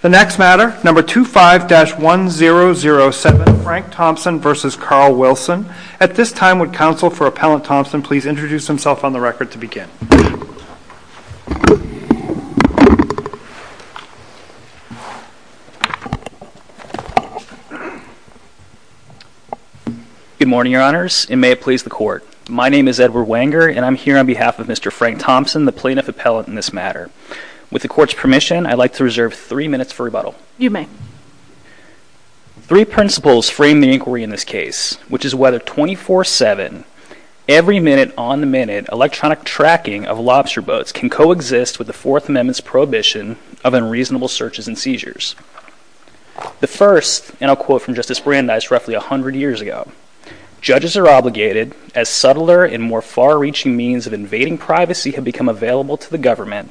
The next matter, number 25-1007, Frank Thompson v. Carl Wilson. At this time, would counsel for Appellant Thompson please introduce himself on the record to begin. Good morning, Your Honors, and may it please the Court. My name is Edward Wenger, and I'm here on behalf of Mr. Frank Thompson, the plaintiff appellant in this matter. With the Court's permission, I'd like to reserve three minutes for rebuttal. You may. Three principles frame the inquiry in this case, which is whether 24-7, every minute on the minute, electronic tracking of lobster boats can coexist with the Fourth Amendment's prohibition of unreasonable searches and seizures. The first, and I'll quote from Justice Brandeis roughly 100 years ago, judges are obligated, as subtler and more far-reaching means of invading privacy have become available to the government,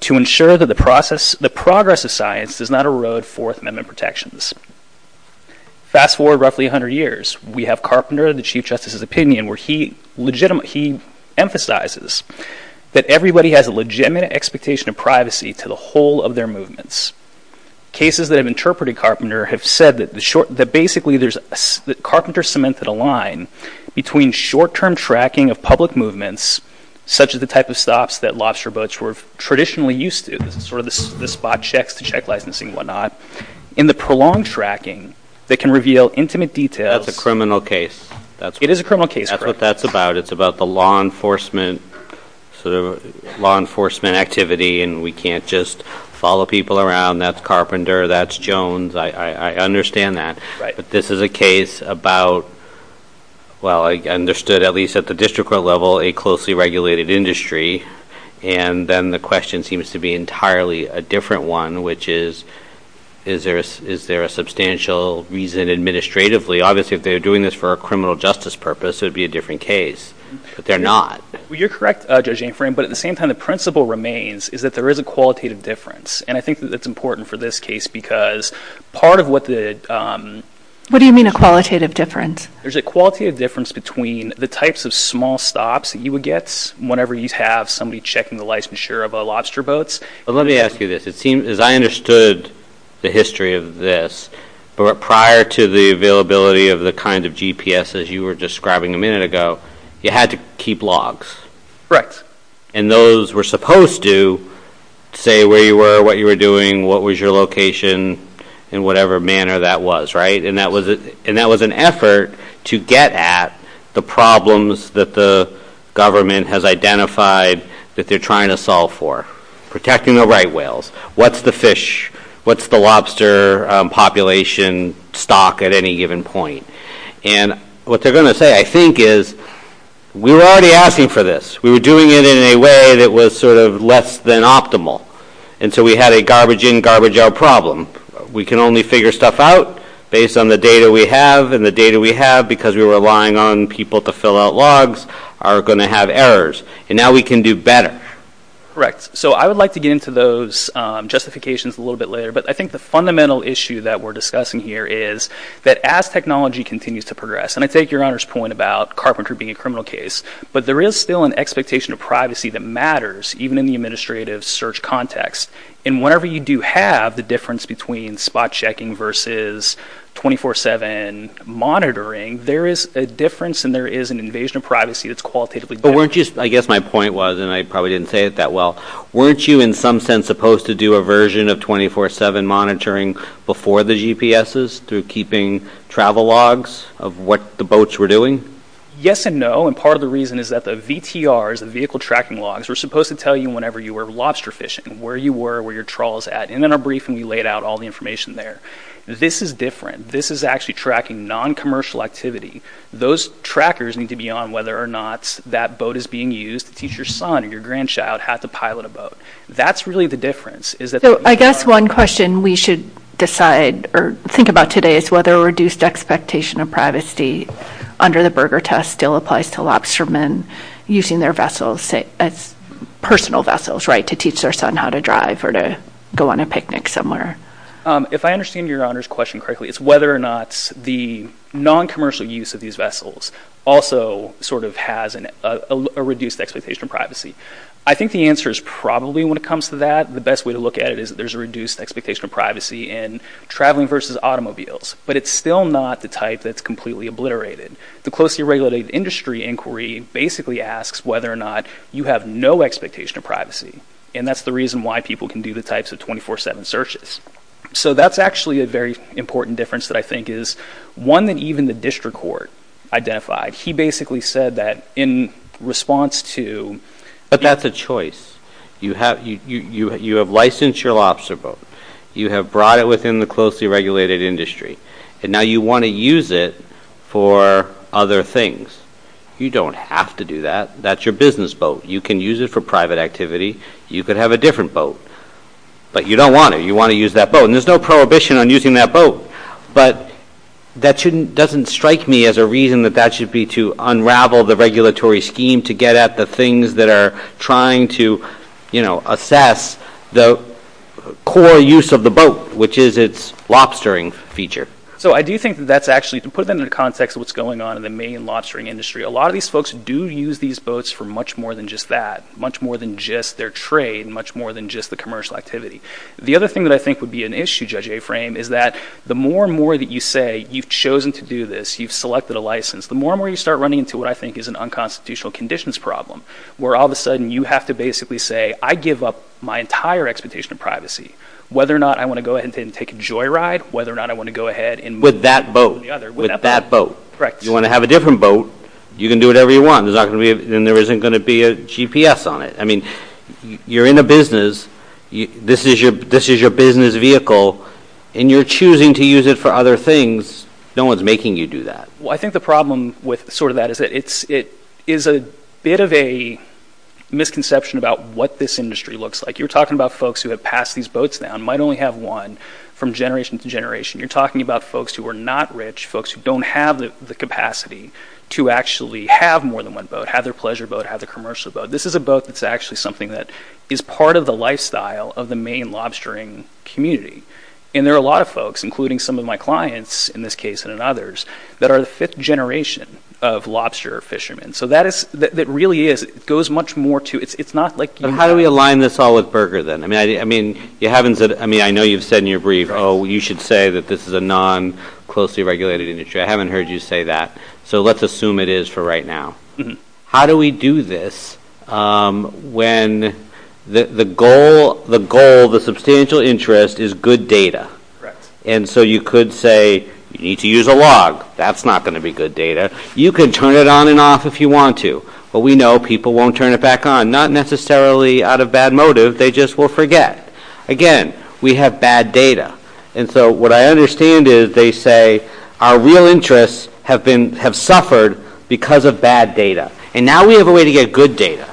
to ensure that the progress of science does not erode Fourth Amendment protections. Fast forward roughly 100 years, we have Carpenter, the Chief Justice's opinion, where he emphasizes that everybody has a legitimate expectation of privacy to the whole of their movements. Cases that have interpreted Carpenter have said that basically Carpenter cemented a line between short-term tracking of public movements, such as the type of stops that lobster boats were traditionally used to, sort of the spot checks to check licensing and whatnot, and the prolonged tracking that can reveal intimate details. That's a criminal case. It is a criminal case. That's what that's about. It's about the law enforcement activity, and we can't just follow people around. That's Carpenter. That's Jones. I understand that. But this is a case about, well, I understood at least at the district court level, a closely regulated industry. And then the question seems to be entirely a different one, which is, is there a substantial reason administratively? Because obviously if they were doing this for a criminal justice purpose, it would be a different case. But they're not. Well, you're correct, Judge Anfram. But at the same time, the principle remains is that there is a qualitative difference. And I think that that's important for this case because part of what the— What do you mean a qualitative difference? There's a qualitative difference between the types of small stops that you would get whenever you have somebody checking the licensure of a lobster boat. Let me ask you this. As I understood the history of this, prior to the availability of the kind of GPS as you were describing a minute ago, you had to keep logs. Correct. And those were supposed to say where you were, what you were doing, what was your location, in whatever manner that was, right? And that was an effort to get at the problems that the government has identified that they're trying to solve for. Protecting the right whales. What's the fish? What's the lobster population stock at any given point? And what they're going to say, I think, is we were already asking for this. We were doing it in a way that was sort of less than optimal. And so we had a garbage-in, garbage-out problem. We can only figure stuff out based on the data we have. And the data we have, because we're relying on people to fill out logs, are going to have errors. And now we can do better. Correct. So I would like to get into those justifications a little bit later. But I think the fundamental issue that we're discussing here is that as technology continues to progress, and I take Your Honor's point about carpentry being a criminal case, but there is still an expectation of privacy that matters, even in the administrative search context. And whenever you do have the difference between spot checking versus 24-7 monitoring, there is a difference and there is an invasion of privacy that's qualitatively different. But weren't you, I guess my point was, and I probably didn't say it that well, weren't you in some sense supposed to do a version of 24-7 monitoring before the GPSs through keeping travel logs of what the boats were doing? Yes and no. And part of the reason is that the VTRs, the vehicle tracking logs, were supposed to tell you whenever you were lobster fishing, where you were, where your trawl was at. And in our briefing we laid out all the information there. This is different. This is actually tracking non-commercial activity. Those trackers need to be on whether or not that boat is being used to teach your son or your grandchild how to pilot a boat. That's really the difference. So I guess one question we should decide or think about today is whether a reduced expectation of privacy under the burger test still applies to lobstermen using their vessels, personal vessels, right, to teach their son how to drive or to go on a picnic somewhere. If I understand Your Honor's question correctly, it's whether or not the non-commercial use of these vessels also sort of has a reduced expectation of privacy. I think the answer is probably when it comes to that, the best way to look at it is that there's a reduced expectation of privacy in traveling versus automobiles. But it's still not the type that's completely obliterated. The closely regulated industry inquiry basically asks whether or not you have no expectation of privacy, and that's the reason why people can do the types of 24-7 searches. So that's actually a very important difference that I think is one that even the district court identified. He basically said that in response to – But that's a choice. You have licensed your lobster boat. You have brought it within the closely regulated industry. And now you want to use it for other things. You don't have to do that. That's your business boat. You can use it for private activity. You could have a different boat. But you don't want to. You want to use that boat. And there's no prohibition on using that boat. But that doesn't strike me as a reason that that should be to unravel the regulatory scheme to get at the things that are trying to assess the core use of the boat, which is its lobstering feature. So I do think that that's actually – to put that into the context of what's going on in the main lobstering industry, a lot of these folks do use these boats for much more than just that, much more than just their trade, much more than just the commercial activity. The other thing that I think would be an issue, Judge Aframe, is that the more and more that you say you've chosen to do this, you've selected a license, the more and more you start running into what I think is an unconstitutional conditions problem, where all of a sudden you have to basically say, I give up my entire expectation of privacy, whether or not I want to go ahead and take a joyride, whether or not I want to go ahead and move. With that boat. With that boat. Correct. You want to have a different boat. You can do whatever you want. And there isn't going to be a GPS on it. I mean, you're in a business. This is your business vehicle. And you're choosing to use it for other things. No one's making you do that. Well, I think the problem with sort of that is that it is a bit of a misconception about what this industry looks like. You're talking about folks who have passed these boats down, might only have one, from generation to generation. You're talking about folks who are not rich, folks who don't have the capacity to actually have more than one boat, have their pleasure boat, have their commercial boat. This is a boat that's actually something that is part of the lifestyle of the Maine lobstering community. And there are a lot of folks, including some of my clients in this case and in others, that are the fifth generation of lobster fishermen. So that really is, it goes much more to, it's not like you have. How do we align this all with Berger then? I mean, I know you've said in your brief, oh, you should say that this is a non-closely regulated industry. I haven't heard you say that. So let's assume it is for right now. How do we do this when the goal, the substantial interest is good data? And so you could say you need to use a log. That's not going to be good data. You can turn it on and off if you want to. But we know people won't turn it back on, not necessarily out of bad motive. They just will forget. Again, we have bad data. And so what I understand is they say our real interests have suffered because of bad data. And now we have a way to get good data.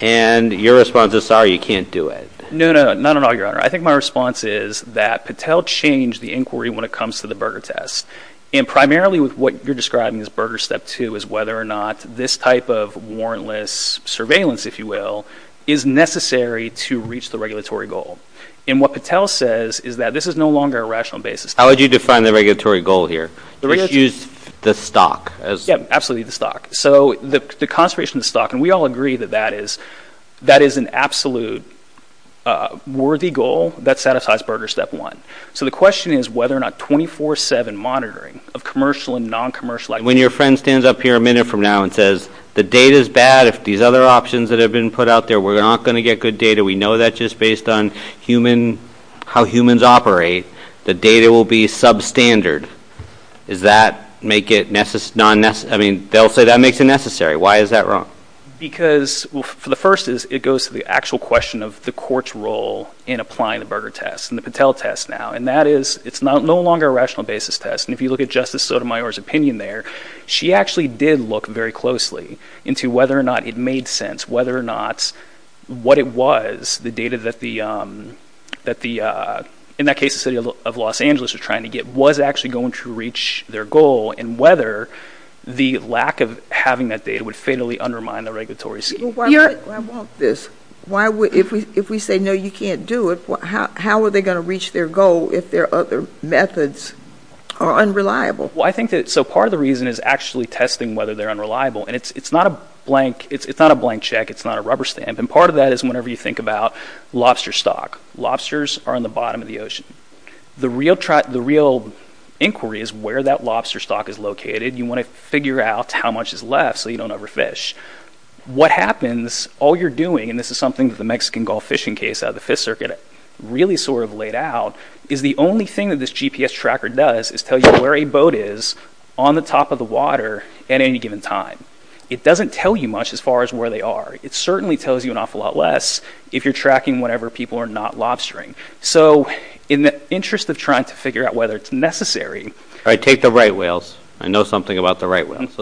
And your response is, sorry, you can't do it. No, no, not at all, Your Honor. I think my response is that Patel changed the inquiry when it comes to the Berger test. And primarily with what you're describing as Berger step two is whether or not this type of warrantless surveillance, if you will, is necessary to reach the regulatory goal. And what Patel says is that this is no longer a rational basis. How would you define the regulatory goal here? He has used the stock. Yes, absolutely, the stock. So the conservation of stock, and we all agree that that is an absolute worthy goal that satisfies Berger step one. So the question is whether or not 24-7 monitoring of commercial and non-commercial activities. When your friend stands up here a minute from now and says the data is bad, if these other options that have been put out there, we're not going to get good data, we know that just based on how humans operate, the data will be substandard. Does that make it necessary? I mean, they'll say that makes it necessary. Why is that wrong? Because, well, for the first is it goes to the actual question of the court's role in applying the Berger test and the Patel test now, and that is it's no longer a rational basis test. And if you look at Justice Sotomayor's opinion there, she actually did look very closely into whether or not it made sense, whether or not what it was, the data that the, in that case, the city of Los Angeles was trying to get, was actually going to reach their goal, and whether the lack of having that data would fatally undermine the regulatory scheme. I want this. If we say, no, you can't do it, how are they going to reach their goal if their other methods are unreliable? Well, I think that, so part of the reason is actually testing whether they're unreliable. And it's not a blank check. It's not a rubber stamp. And part of that is whenever you think about lobster stock. Lobsters are in the bottom of the ocean. The real inquiry is where that lobster stock is located. You want to figure out how much is left so you don't overfish. What happens, all you're doing, and this is something that the Mexican Gulf fishing case out of the Fifth Circuit really sort of laid out, is the only thing that this GPS tracker does is tell you where a boat is on the top of the water at any given time. It doesn't tell you much as far as where they are. It certainly tells you an awful lot less if you're tracking whenever people are not lobstering. So in the interest of trying to figure out whether it's necessary. All right, take the right whales. I know something about the right whales.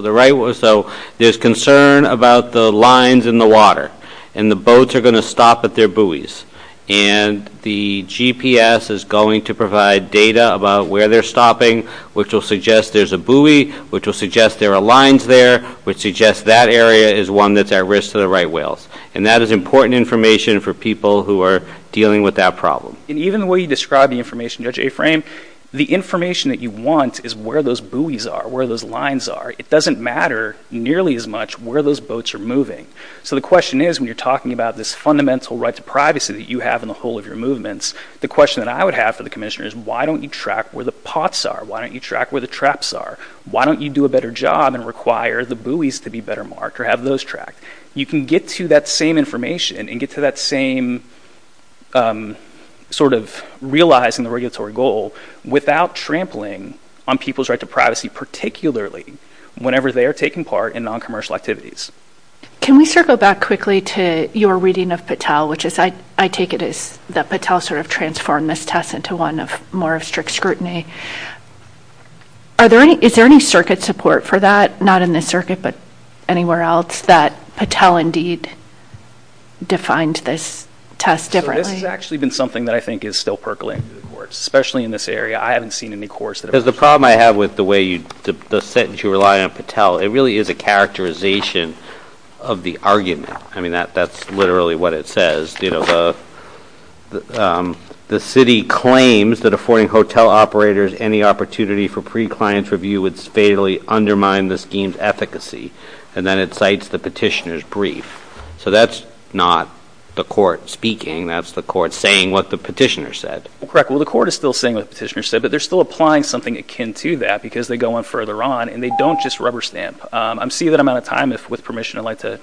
So there's concern about the lines in the water, and the boats are going to stop at their buoys, and the GPS is going to provide data about where they're stopping, which will suggest there's a buoy, which will suggest there are lines there, which suggests that area is one that's at risk to the right whales. And that is important information for people who are dealing with that problem. And even the way you describe the information, Judge Aframe, the information that you want is where those buoys are, where those lines are. It doesn't matter nearly as much where those boats are moving. So the question is when you're talking about this fundamental right to privacy that you have in the whole of your movements, the question that I would have for the commissioner is why don't you track where the pots are? Why don't you track where the traps are? Why don't you do a better job and require the buoys to be better marked or have those tracked? You can get to that same information and get to that same sort of realizing the regulatory goal without trampling on people's right to privacy, particularly whenever they are taking part in noncommercial activities. Can we circle back quickly to your reading of Patel, which is I take it is that Patel sort of transformed this test into one of more of strict scrutiny. Is there any circuit support for that, not in this circuit, but anywhere else that Patel indeed defined this test differently? This has actually been something that I think is still percolating through the courts, especially in this area. I haven't seen any courts that have... Because the problem I have with the sentence you rely on Patel, it really is a characterization of the argument. I mean, that's literally what it says. The city claims that affording hotel operators any opportunity for pre-client review would fatally undermine the scheme's efficacy, and then it cites the petitioner's brief. So that's not the court speaking. That's the court saying what the petitioner said. Correct. Well, the court is still saying what the petitioner said, but they're still applying something akin to that because they go on further on and they don't just rubber stamp. I'm seeing that I'm out of time. If with permission, I'd like to...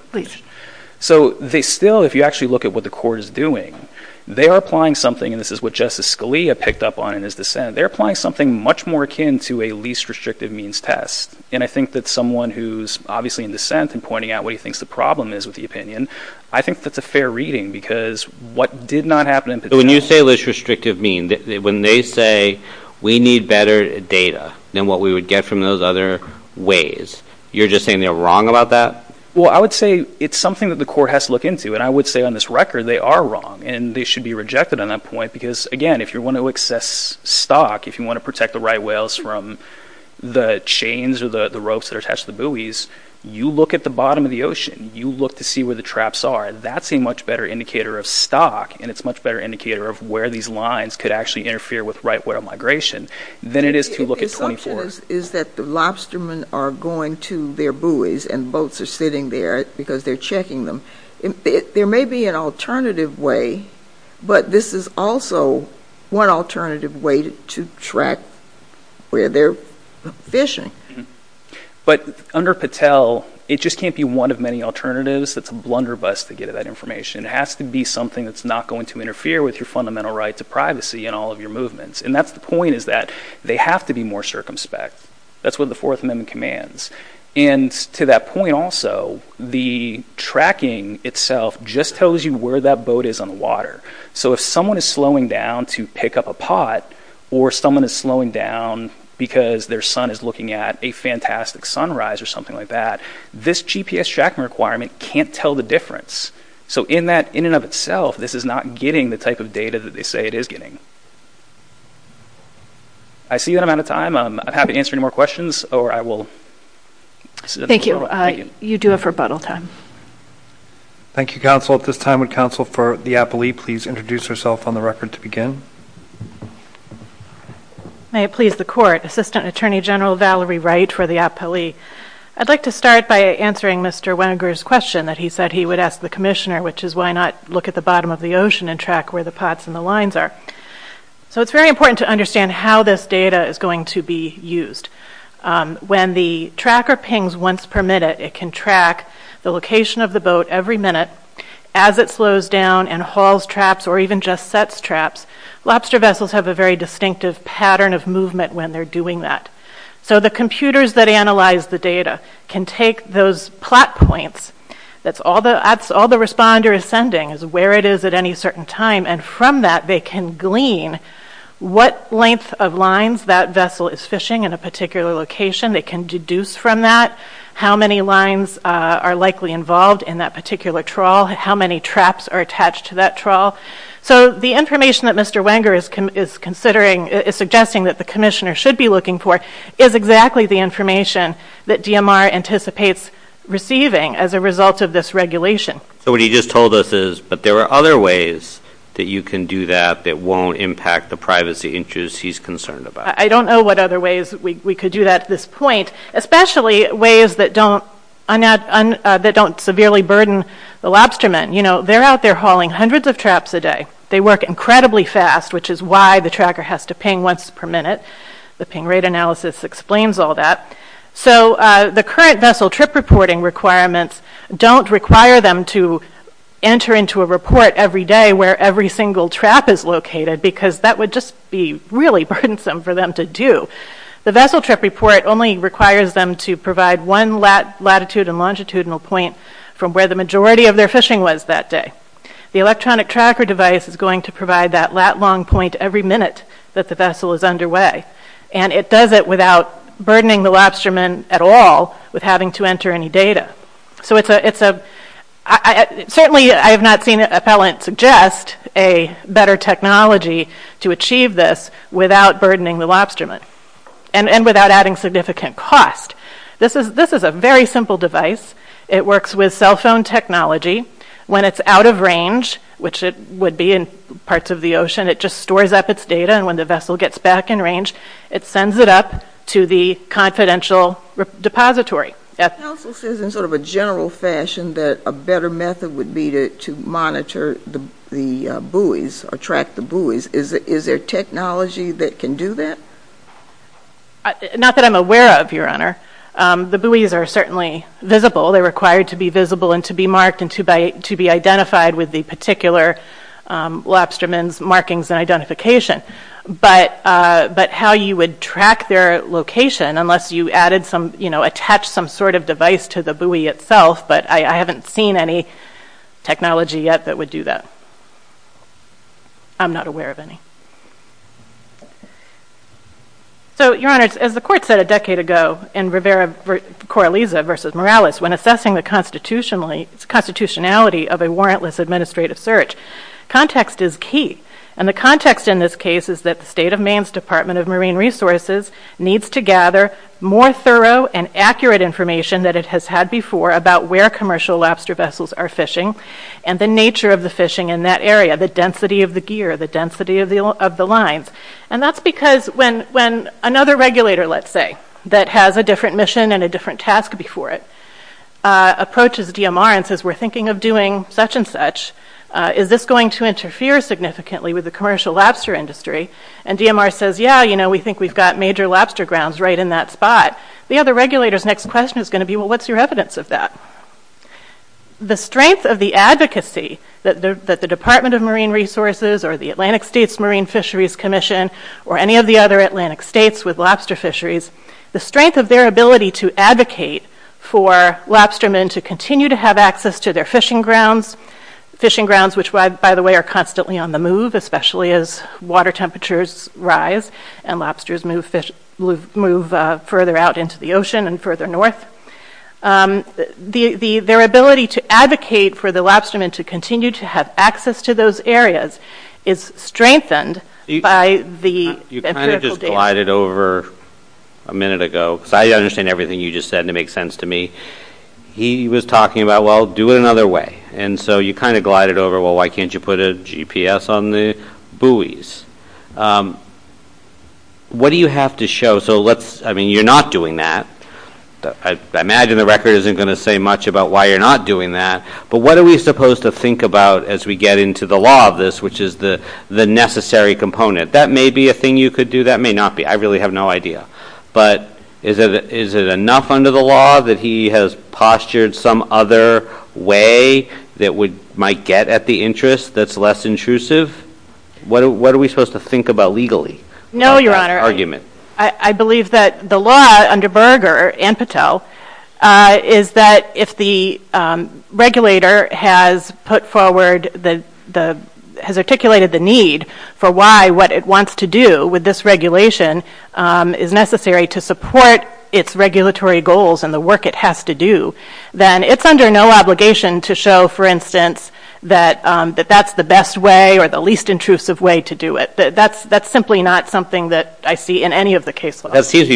So they still, if you actually look at what the court is doing, they are applying something, and this is what Justice Scalia picked up on in his dissent, they're applying something much more akin to a least restrictive means test. And I think that someone who's obviously in dissent and pointing out what he thinks the problem is with the opinion, I think that's a fair reading because what did not happen in Petel... So when you say least restrictive means, when they say we need better data than what we would get from those other ways, you're just saying they're wrong about that? Well, I would say it's something that the court has to look into, and I would say on this record they are wrong, and they should be rejected on that point because, again, if you want to access stock, if you want to protect the right whales from the chains or the ropes that are attached to the buoys, you look at the bottom of the ocean. You look to see where the traps are. That's a much better indicator of stock, and it's a much better indicator of where these lines could actually interfere with right whale migration than it is to look at 24. The assumption is that the lobstermen are going to their buoys and boats are sitting there because they're checking them. There may be an alternative way, but this is also one alternative way to track where they're fishing. But under Petel, it just can't be one of many alternatives. It's a blunderbuss to get at that information. It has to be something that's not going to interfere with your fundamental right to privacy in all of your movements. And that's the point is that they have to be more circumspect. That's what the Fourth Amendment commands. And to that point also, the tracking itself just tells you where that boat is on the water. So if someone is slowing down to pick up a pot or someone is slowing down because their son is looking at a fantastic sunrise or something like that, this GPS tracking requirement can't tell the difference. So in and of itself, this is not getting the type of data that they say it is getting. I see that I'm out of time. I'm happy to answer any more questions, or I will... Thank you. You do have rebuttal time. Thank you, counsel. At this time, would counsel for the appellee please introduce herself on the record to begin? May it please the Court. Assistant Attorney General Valerie Wright for the appellee. I'd like to start by answering Mr. Wenger's question that he said he would ask the commissioner, which is why not look at the bottom of the ocean and track where the pots and the lines are. So it's very important to understand how this data is going to be used. When the tracker pings once per minute, it can track the location of the boat every minute. As it slows down and hauls traps or even just sets traps, lobster vessels have a very distinctive pattern of movement when they're doing that. So the computers that analyze the data can take those plot points, that's all the responder is sending, is where it is at any certain time, and from that they can glean what length of lines that vessel is fishing in a particular location. They can deduce from that how many lines are likely involved in that particular trawl, how many traps are attached to that trawl. So the information that Mr. Wenger is considering, is suggesting that the commissioner should be looking for, is exactly the information that DMR anticipates receiving as a result of this regulation. So what he just told us is, but there are other ways that you can do that that won't impact the privacy interests he's concerned about. I don't know what other ways we could do that at this point, especially ways that don't severely burden the lobstermen. They're out there hauling hundreds of traps a day. They work incredibly fast, which is why the tracker has to ping once per minute. The ping rate analysis explains all that. So the current vessel trip reporting requirements don't require them to enter into a report every day where every single trap is located, because that would just be really burdensome for them to do. The vessel trip report only requires them to provide one latitude and longitudinal point from where the majority of their fishing was that day. The electronic tracker device is going to provide that lat-long point every minute that the vessel is underway, and it does it without burdening the lobstermen at all with having to enter any data. So it's a... Certainly, I have not seen an appellant suggest a better technology to achieve this without burdening the lobstermen and without adding significant cost. This is a very simple device. It works with cell phone technology. When it's out of range, which it would be in parts of the ocean, it just stores up its data, and when the vessel gets back in range, it sends it up to the confidential depository. The Council says in sort of a general fashion that a better method would be to monitor the buoys or track the buoys. Is there technology that can do that? Not that I'm aware of, Your Honor. The buoys are certainly visible. They're required to be visible and to be marked and to be identified with the particular lobstermen's markings and identification. But how you would track their location, unless you attached some sort of device to the buoy itself, but I haven't seen any technology yet that would do that. I'm not aware of any. So, Your Honor, as the Court said a decade ago in Rivera-Corraliza v. Morales, when assessing the constitutionality of a warrantless administrative search, context is key. And the context in this case is that the State of Maine's Department of Marine Resources needs to gather more thorough and accurate information that it has had before about where commercial lobster vessels are fishing and the nature of the fishing in that area, the density of the gear, the density of the lines. And that's because when another regulator, let's say, that has a different mission and a different task before it, approaches DMR and says, we're thinking of doing such and such, is this going to interfere significantly with the commercial lobster industry? And DMR says, yeah, you know, we think we've got major lobster grounds right in that spot. The other regulator's next question is going to be, well, what's your evidence of that? The strength of the advocacy that the Department of Marine Resources or the Atlantic States Marine Fisheries Commission or any of the other Atlantic states with lobster fisheries, the strength of their ability to advocate for lobstermen to continue to have access to their fishing grounds, fishing grounds which, by the way, are constantly on the move, especially as water temperatures rise and lobsters move further out into the ocean and further north. Their ability to advocate for the lobstermen to continue to have access to those areas is strengthened by the empirical data. You kind of just glided over a minute ago, because I understand everything you just said, and it makes sense to me. He was talking about, well, do it another way. And so you kind of glided over, well, why can't you put a GPS on the buoys? What do you have to show? I mean, you're not doing that. I imagine the record isn't going to say much about why you're not doing that, but what are we supposed to think about as we get into the law of this, which is the necessary component? That may be a thing you could do. That may not be. I really have no idea. But is it enough under the law that he has postured some other way that might get at the interest that's less intrusive? What are we supposed to think about legally? No, Your Honor. I believe that the law under Berger and Patel is that if the regulator has articulated the need for why what it wants to do with this regulation is necessary to support its regulatory goals and the work it has to do, then it's under no obligation to show, for instance, that that's the best way or the least intrusive way to do it. That's simply not something that I see in any of the case laws. That seems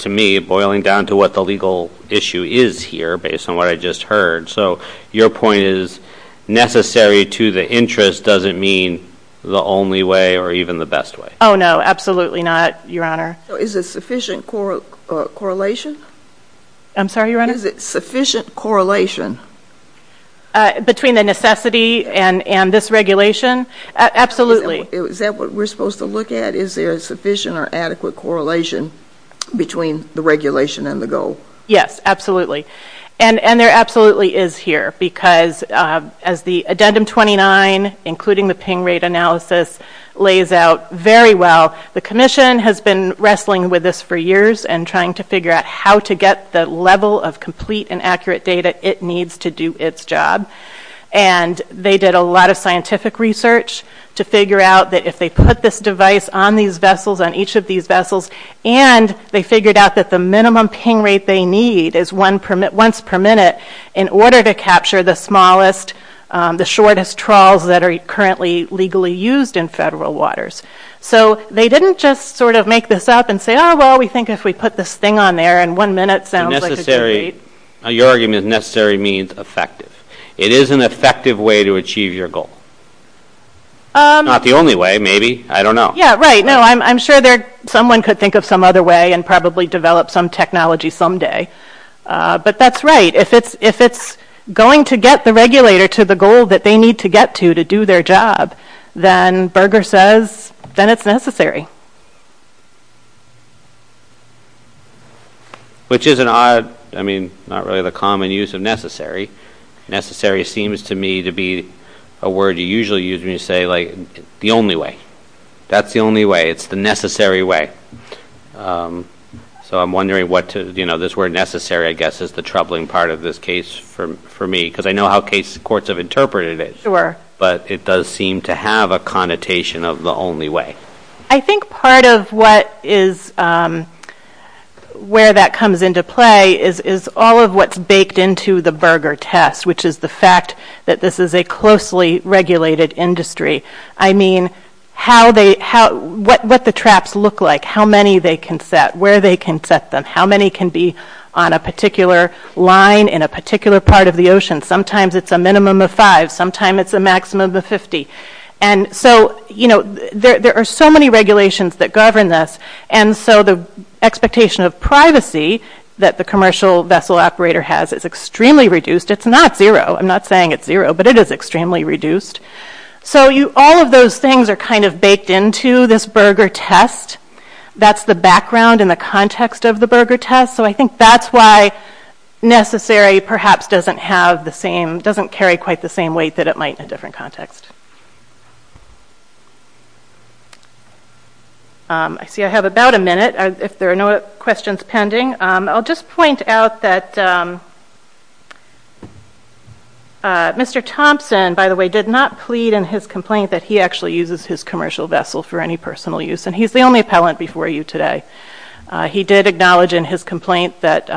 to me boiling down to what the legal issue is here based on what I just heard. So your point is necessary to the interest doesn't mean the only way or even the best way. Oh, no. Absolutely not, Your Honor. Is it sufficient correlation? I'm sorry, Your Honor? Is it sufficient correlation? Between the necessity and this regulation? Absolutely. Is that what we're supposed to look at? Is there a sufficient or adequate correlation between the regulation and the goal? Yes, absolutely. And there absolutely is here because as the Addendum 29, including the Ping Rate Analysis, lays out very well, the Commission has been wrestling with this for years and trying to figure out how to get the level of complete and accurate data it needs to do its job. And they did a lot of scientific research to figure out that if they put this device on these vessels, on each of these vessels, and they figured out that the minimum ping rate they need is once per minute in order to capture the smallest, the shortest trawls that are currently legally used in federal waters. So they didn't just sort of make this up and say, oh, well, we think if we put this thing on there and one minute sounds like a good rate. Your argument is necessary means effective. It is an effective way to achieve your goal. Not the only way, maybe. I don't know. Yeah, right. No, I'm sure someone could think of some other way and probably develop some technology someday. But that's right. If it's going to get the regulator to the goal that they need to get to to do their job, then Berger says then it's necessary. Which is an odd, I mean, not really the common use of necessary. Necessary seems to me to be a word you usually use when you say, like, the only way. That's the only way. It's the necessary way. So I'm wondering what to, you know, this word necessary, I guess, is the troubling part of this case for me because I know how courts have interpreted it. Sure. But it does seem to have a connotation of the only way. I think part of what is, where that comes into play is all of what's baked into the Berger test, which is the fact that this is a closely regulated industry. I mean, how they, what the traps look like, how many they can set, where they can set them, how many can be on a particular line in a particular part of the ocean. Sometimes it's a minimum of five. Sometimes it's a maximum of 50. And so, you know, there are so many regulations that govern this, and so the expectation of privacy that the commercial vessel operator has is extremely reduced. It's not zero. I'm not saying it's zero, but it is extremely reduced. So all of those things are kind of baked into this Berger test. That's the background and the context of the Berger test. So I think that's why necessary perhaps doesn't have the same, doesn't carry quite the same weight that it might in a different context. I see I have about a minute, if there are no questions pending. I'll just point out that Mr. Thompson, by the way, did not plead in his complaint that he actually uses his commercial vessel for any personal use, and he's the only appellant before you today. He did acknowledge in his complaint that,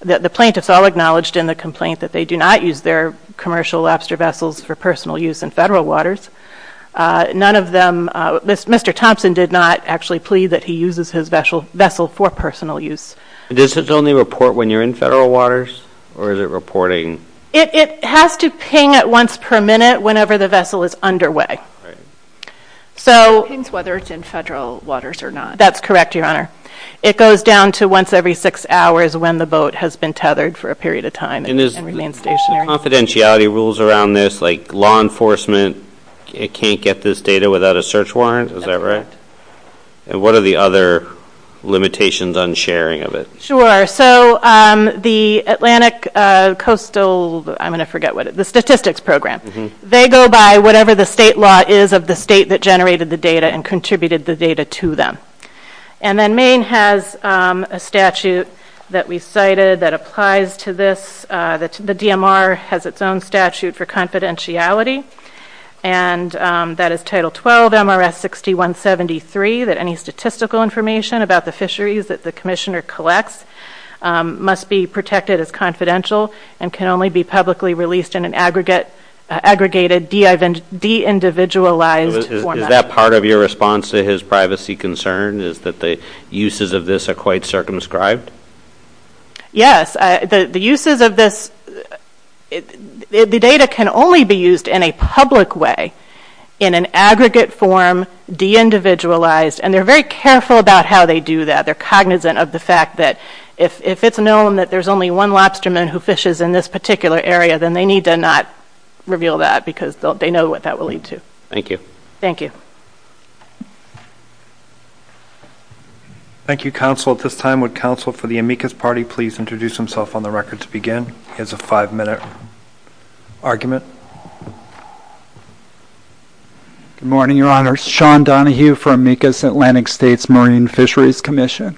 the plaintiffs all acknowledged in the complaint that they do not use their commercial lobster vessels for personal use in federal waters. None of them, Mr. Thompson did not actually plead that he uses his vessel for personal use. Does this only report when you're in federal waters, or is it reporting? It has to ping at once per minute whenever the vessel is underway. It pings whether it's in federal waters or not. That's correct, Your Honor. It goes down to once every six hours when the boat has been tethered for a period of time and remains stationary. Is there confidentiality rules around this, like law enforcement can't get this data without a search warrant? Is that right? And what are the other limitations on sharing of it? Sure, so the Atlantic Coastal, I'm going to forget what it is, the statistics program, they go by whatever the state law is of the state that generated the data and contributed the data to them. And then Maine has a statute that we cited that applies to this. The DMR has its own statute for confidentiality, and that is Title 12, MRS 6173, that any statistical information about the fisheries that the commissioner collects must be protected as confidential and can only be publicly released in an aggregated, de-individualized format. Is that part of your response to his privacy concern, is that the uses of this are quite circumscribed? Yes, the uses of this, the data can only be used in a public way, in an aggregate form, de-individualized, and they're very careful about how they do that. They're cognizant of the fact that if it's known that there's only one lobsterman who fishes in this particular area, then they need to not reveal that because they know what that will lead to. Thank you. Thank you. Thank you, counsel. At this time, would counsel for the amicus party please introduce himself on the record to begin? He has a five-minute argument. Good morning, Your Honor. Sean Donohue from Amicus Atlantic States Marine Fisheries Commission.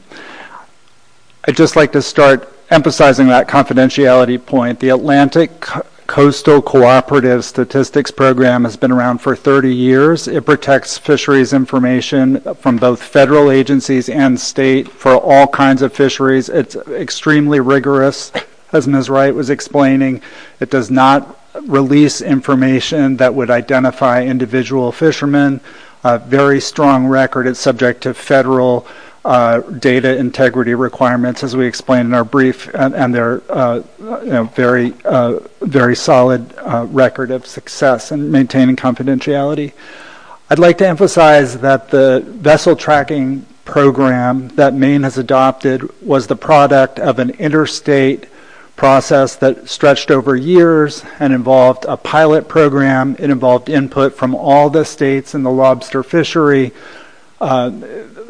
I'd just like to start emphasizing that confidentiality point. The Atlantic Coastal Cooperative Statistics Program has been around for 30 years. It protects fisheries information from both federal agencies and state for all kinds of fisheries. It's extremely rigorous, as Ms. Wright was explaining. It does not release information that would identify individual fishermen. Very strong record. It's subject to federal data integrity requirements, as we explained in our brief, and they're a very solid record of success in maintaining confidentiality. I'd like to emphasize that the vessel tracking program that Maine has adopted was the product of an interstate process that stretched over years and involved a pilot program. It involved input from all the states in the lobster fishery,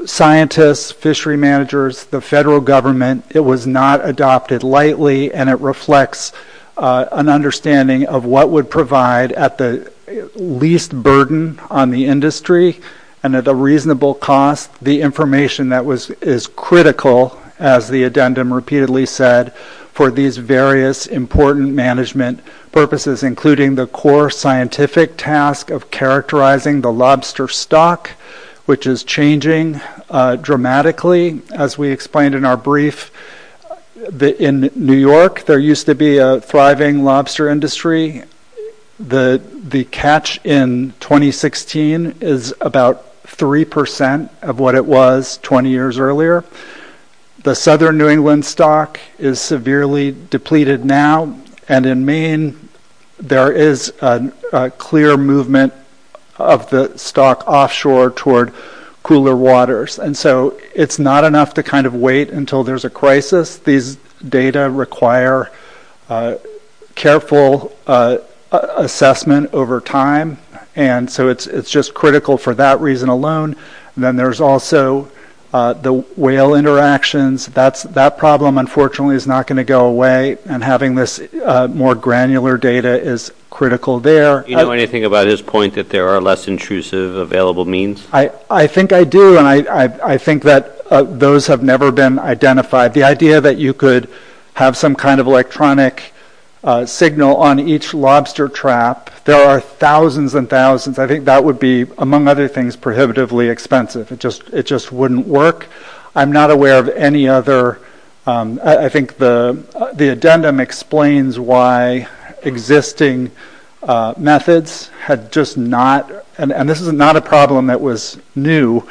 scientists, fishery managers, the federal government. It was not adopted lightly, and it reflects an understanding of what would provide, at the least burden on the industry and at a reasonable cost, the information that is critical, as the addendum repeatedly said, for these various important management purposes, including the core scientific task of characterizing the lobster stock, which is changing dramatically. Specifically, as we explained in our brief, in New York there used to be a thriving lobster industry. The catch in 2016 is about 3% of what it was 20 years earlier. The southern New England stock is severely depleted now, and in Maine there is a clear movement of the stock offshore toward cooler waters. And so it's not enough to kind of wait until there's a crisis. These data require careful assessment over time, and so it's just critical for that reason alone. Then there's also the whale interactions. That problem, unfortunately, is not going to go away, and having this more granular data is critical there. Do you know anything about his point that there are less intrusive available means? I think I do, and I think that those have never been identified. The idea that you could have some kind of electronic signal on each lobster trap, there are thousands and thousands. I think that would be, among other things, prohibitively expensive. It just wouldn't work. I'm not aware of any other. I think the addendum explains why existing methods had just not, and this is not a problem that was new,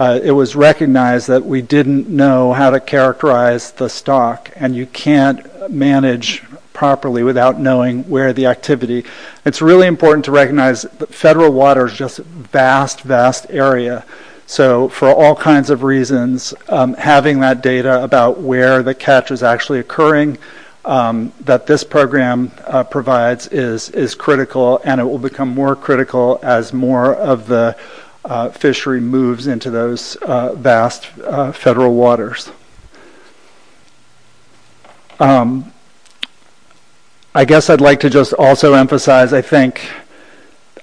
it was recognized that we didn't know how to characterize the stock, and you can't manage properly without knowing where the activity. It's really important to recognize that federal water is just a vast, vast area. So for all kinds of reasons, having that data about where the catch is actually occurring that this program provides is critical, and it will become more critical as more of the fishery moves into those vast federal waters. I guess I'd like to just also emphasize, I think,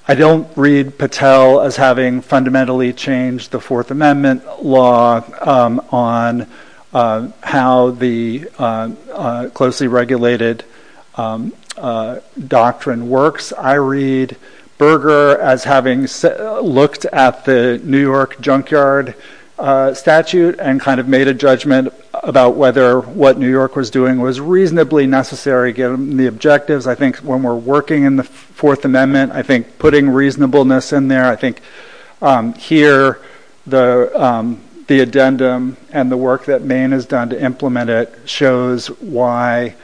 I don't read Patel as having fundamentally changed the Fourth Amendment law on how the closely regulated doctrine works. I read Berger as having looked at the New York junkyard statute and kind of made a judgment about whether what New York was doing was reasonably necessary, given the objectives. I think when we're working in the Fourth Amendment, I think putting reasonableness in there, I think here the addendum and the work that Maine has done to implement it shows why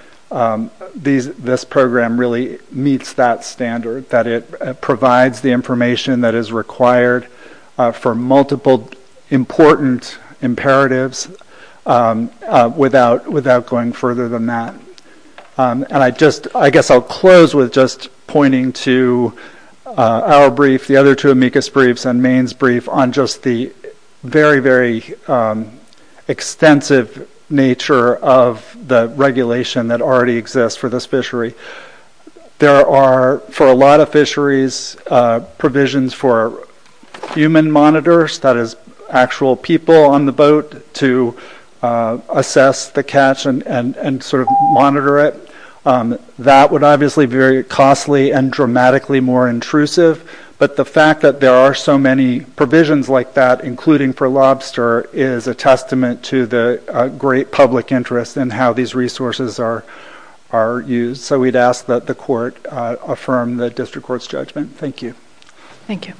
this program really meets that standard, that it provides the information that is required for multiple important imperatives without going further than that. And I guess I'll close with just pointing to our brief. The other two amicus briefs and Maine's brief on just the very, very extensive nature of the regulation that already exists for this fishery. There are, for a lot of fisheries, provisions for human monitors, that is actual people on the boat to assess the catch and sort of monitor it. That would obviously be very costly and dramatically more intrusive, but the fact that there are so many provisions like that, including for lobster, is a testament to the great public interest in how these resources are used. So we'd ask that the court affirm the district court's judgment. Thank you. Thank you.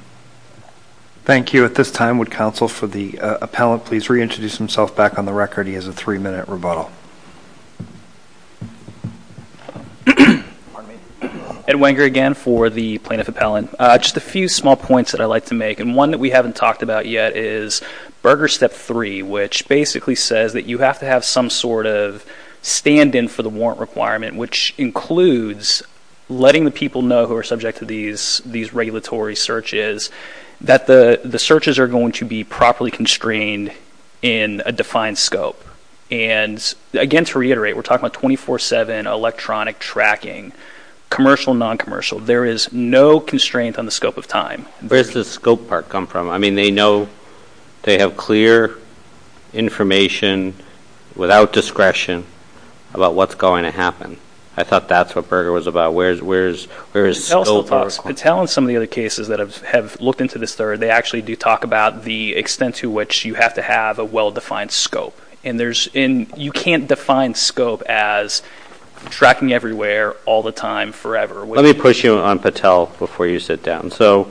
Thank you. At this time, would counsel for the appellant please reintroduce himself back on the record? He has a three-minute rebuttal. Pardon me? Ed Wenger again for the plaintiff appellant. Just a few small points that I'd like to make, and one that we haven't talked about yet is Berger Step 3, which basically says that you have to have some sort of stand-in for the warrant requirement, which includes letting the people know who are subject to these regulatory searches that the searches are going to be properly constrained in a defined scope. Again, to reiterate, we're talking about 24-7 electronic tracking, commercial, non-commercial. There is no constraint on the scope of time. Where does the scope part come from? I mean, they know they have clear information without discretion about what's going to happen. I thought that's what Berger was about. Where is scope? Patel and some of the other cases that have looked into this third, they actually do talk about the extent to which you have to have a well-defined scope. And you can't define scope as tracking everywhere all the time forever. Let me push you on Patel before you sit down. So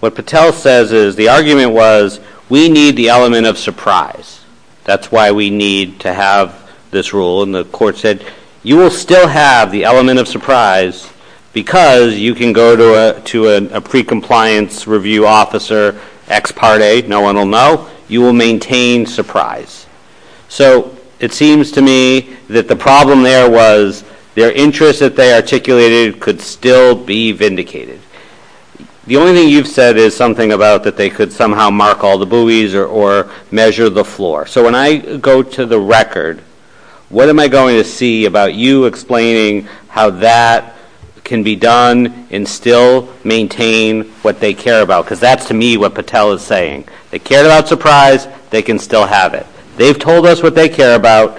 what Patel says is the argument was we need the element of surprise. That's why we need to have this rule. And the court said you will still have the element of surprise because you can go to a pre-compliance review officer, ex parte, no one will know. You will maintain surprise. So it seems to me that the problem there was their interest that they articulated could still be vindicated. The only thing you've said is something about that they could somehow mark all the buoys or measure the floor. So when I go to the record, what am I going to see about you explaining how that can be done and still maintain what they care about because that's, to me, what Patel is saying. They cared about surprise. They can still have it. They've told us what they care about,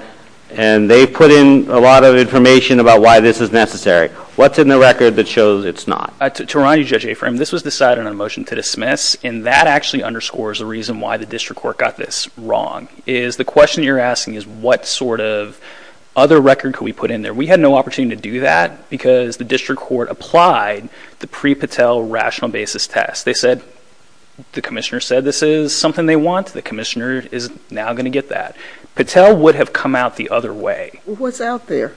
and they've put in a lot of information about why this is necessary. What's in the record that shows it's not? To remind you, Judge Afram, this was decided on a motion to dismiss, and that actually underscores the reason why the district court got this wrong, is the question you're asking is what sort of other record could we put in there? We had no opportunity to do that because the district court applied the pre-Patel rational basis test. They said the commissioner said this is something they want. The commissioner is now going to get that. Patel would have come out the other way. What's out there?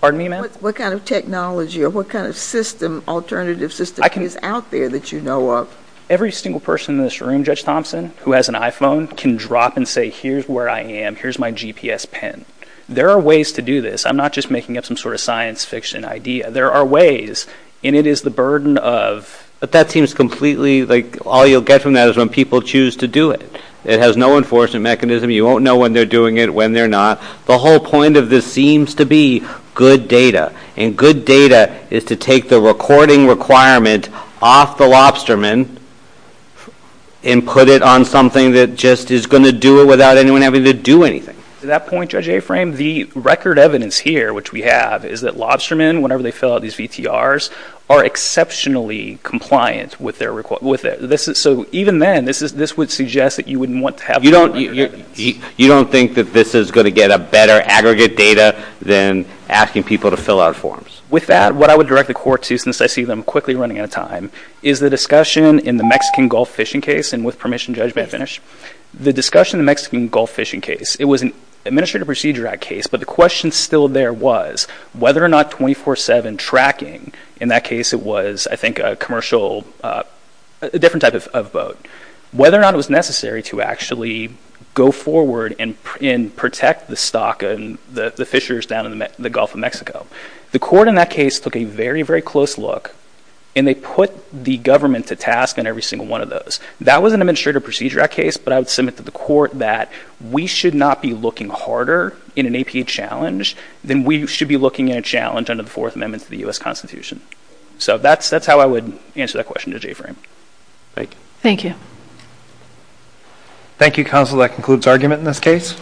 Pardon me, ma'am? What kind of technology or what kind of system, alternative system, is out there that you know of? Every single person in this room, Judge Thompson, who has an iPhone, can drop and say, here's where I am. Here's my GPS pen. There are ways to do this. I'm not just making up some sort of science fiction idea. There are ways, and it is the burden of. But that seems completely like all you'll get from that is when people choose to do it. It has no enforcement mechanism. You won't know when they're doing it, when they're not. The whole point of this seems to be good data, and good data is to take the recording requirement off the lobsterman and put it on something that just is going to do it without anyone having to do anything. To that point, Judge Aframe, the record evidence here, which we have, is that lobstermen, whenever they fill out these VTRs, are exceptionally compliant with it. So even then, this would suggest that you wouldn't want to have to do that. You don't think that this is going to get a better aggregate data than asking people to fill out forms? With that, what I would direct the Court to, since I see them quickly running out of time, is the discussion in the Mexican Gulf fishing case. And with permission, Judge, may I finish? The discussion in the Mexican Gulf fishing case, it was an Administrative Procedure Act case, but the question still there was whether or not 24-7 tracking, in that case it was, I think, a commercial, a different type of boat, whether or not it was necessary to actually go forward and protect the stock and the fishers down in the Gulf of Mexico. The Court in that case took a very, very close look, and they put the government to task in every single one of those. That was an Administrative Procedure Act case, but I would submit to the Court that we should not be looking harder in an APA challenge than we should be looking at a challenge under the Fourth Amendment to the U.S. Constitution. So that's how I would answer that question to Judge Aframe. Thank you. Thank you, Counsel. That concludes argument in this case.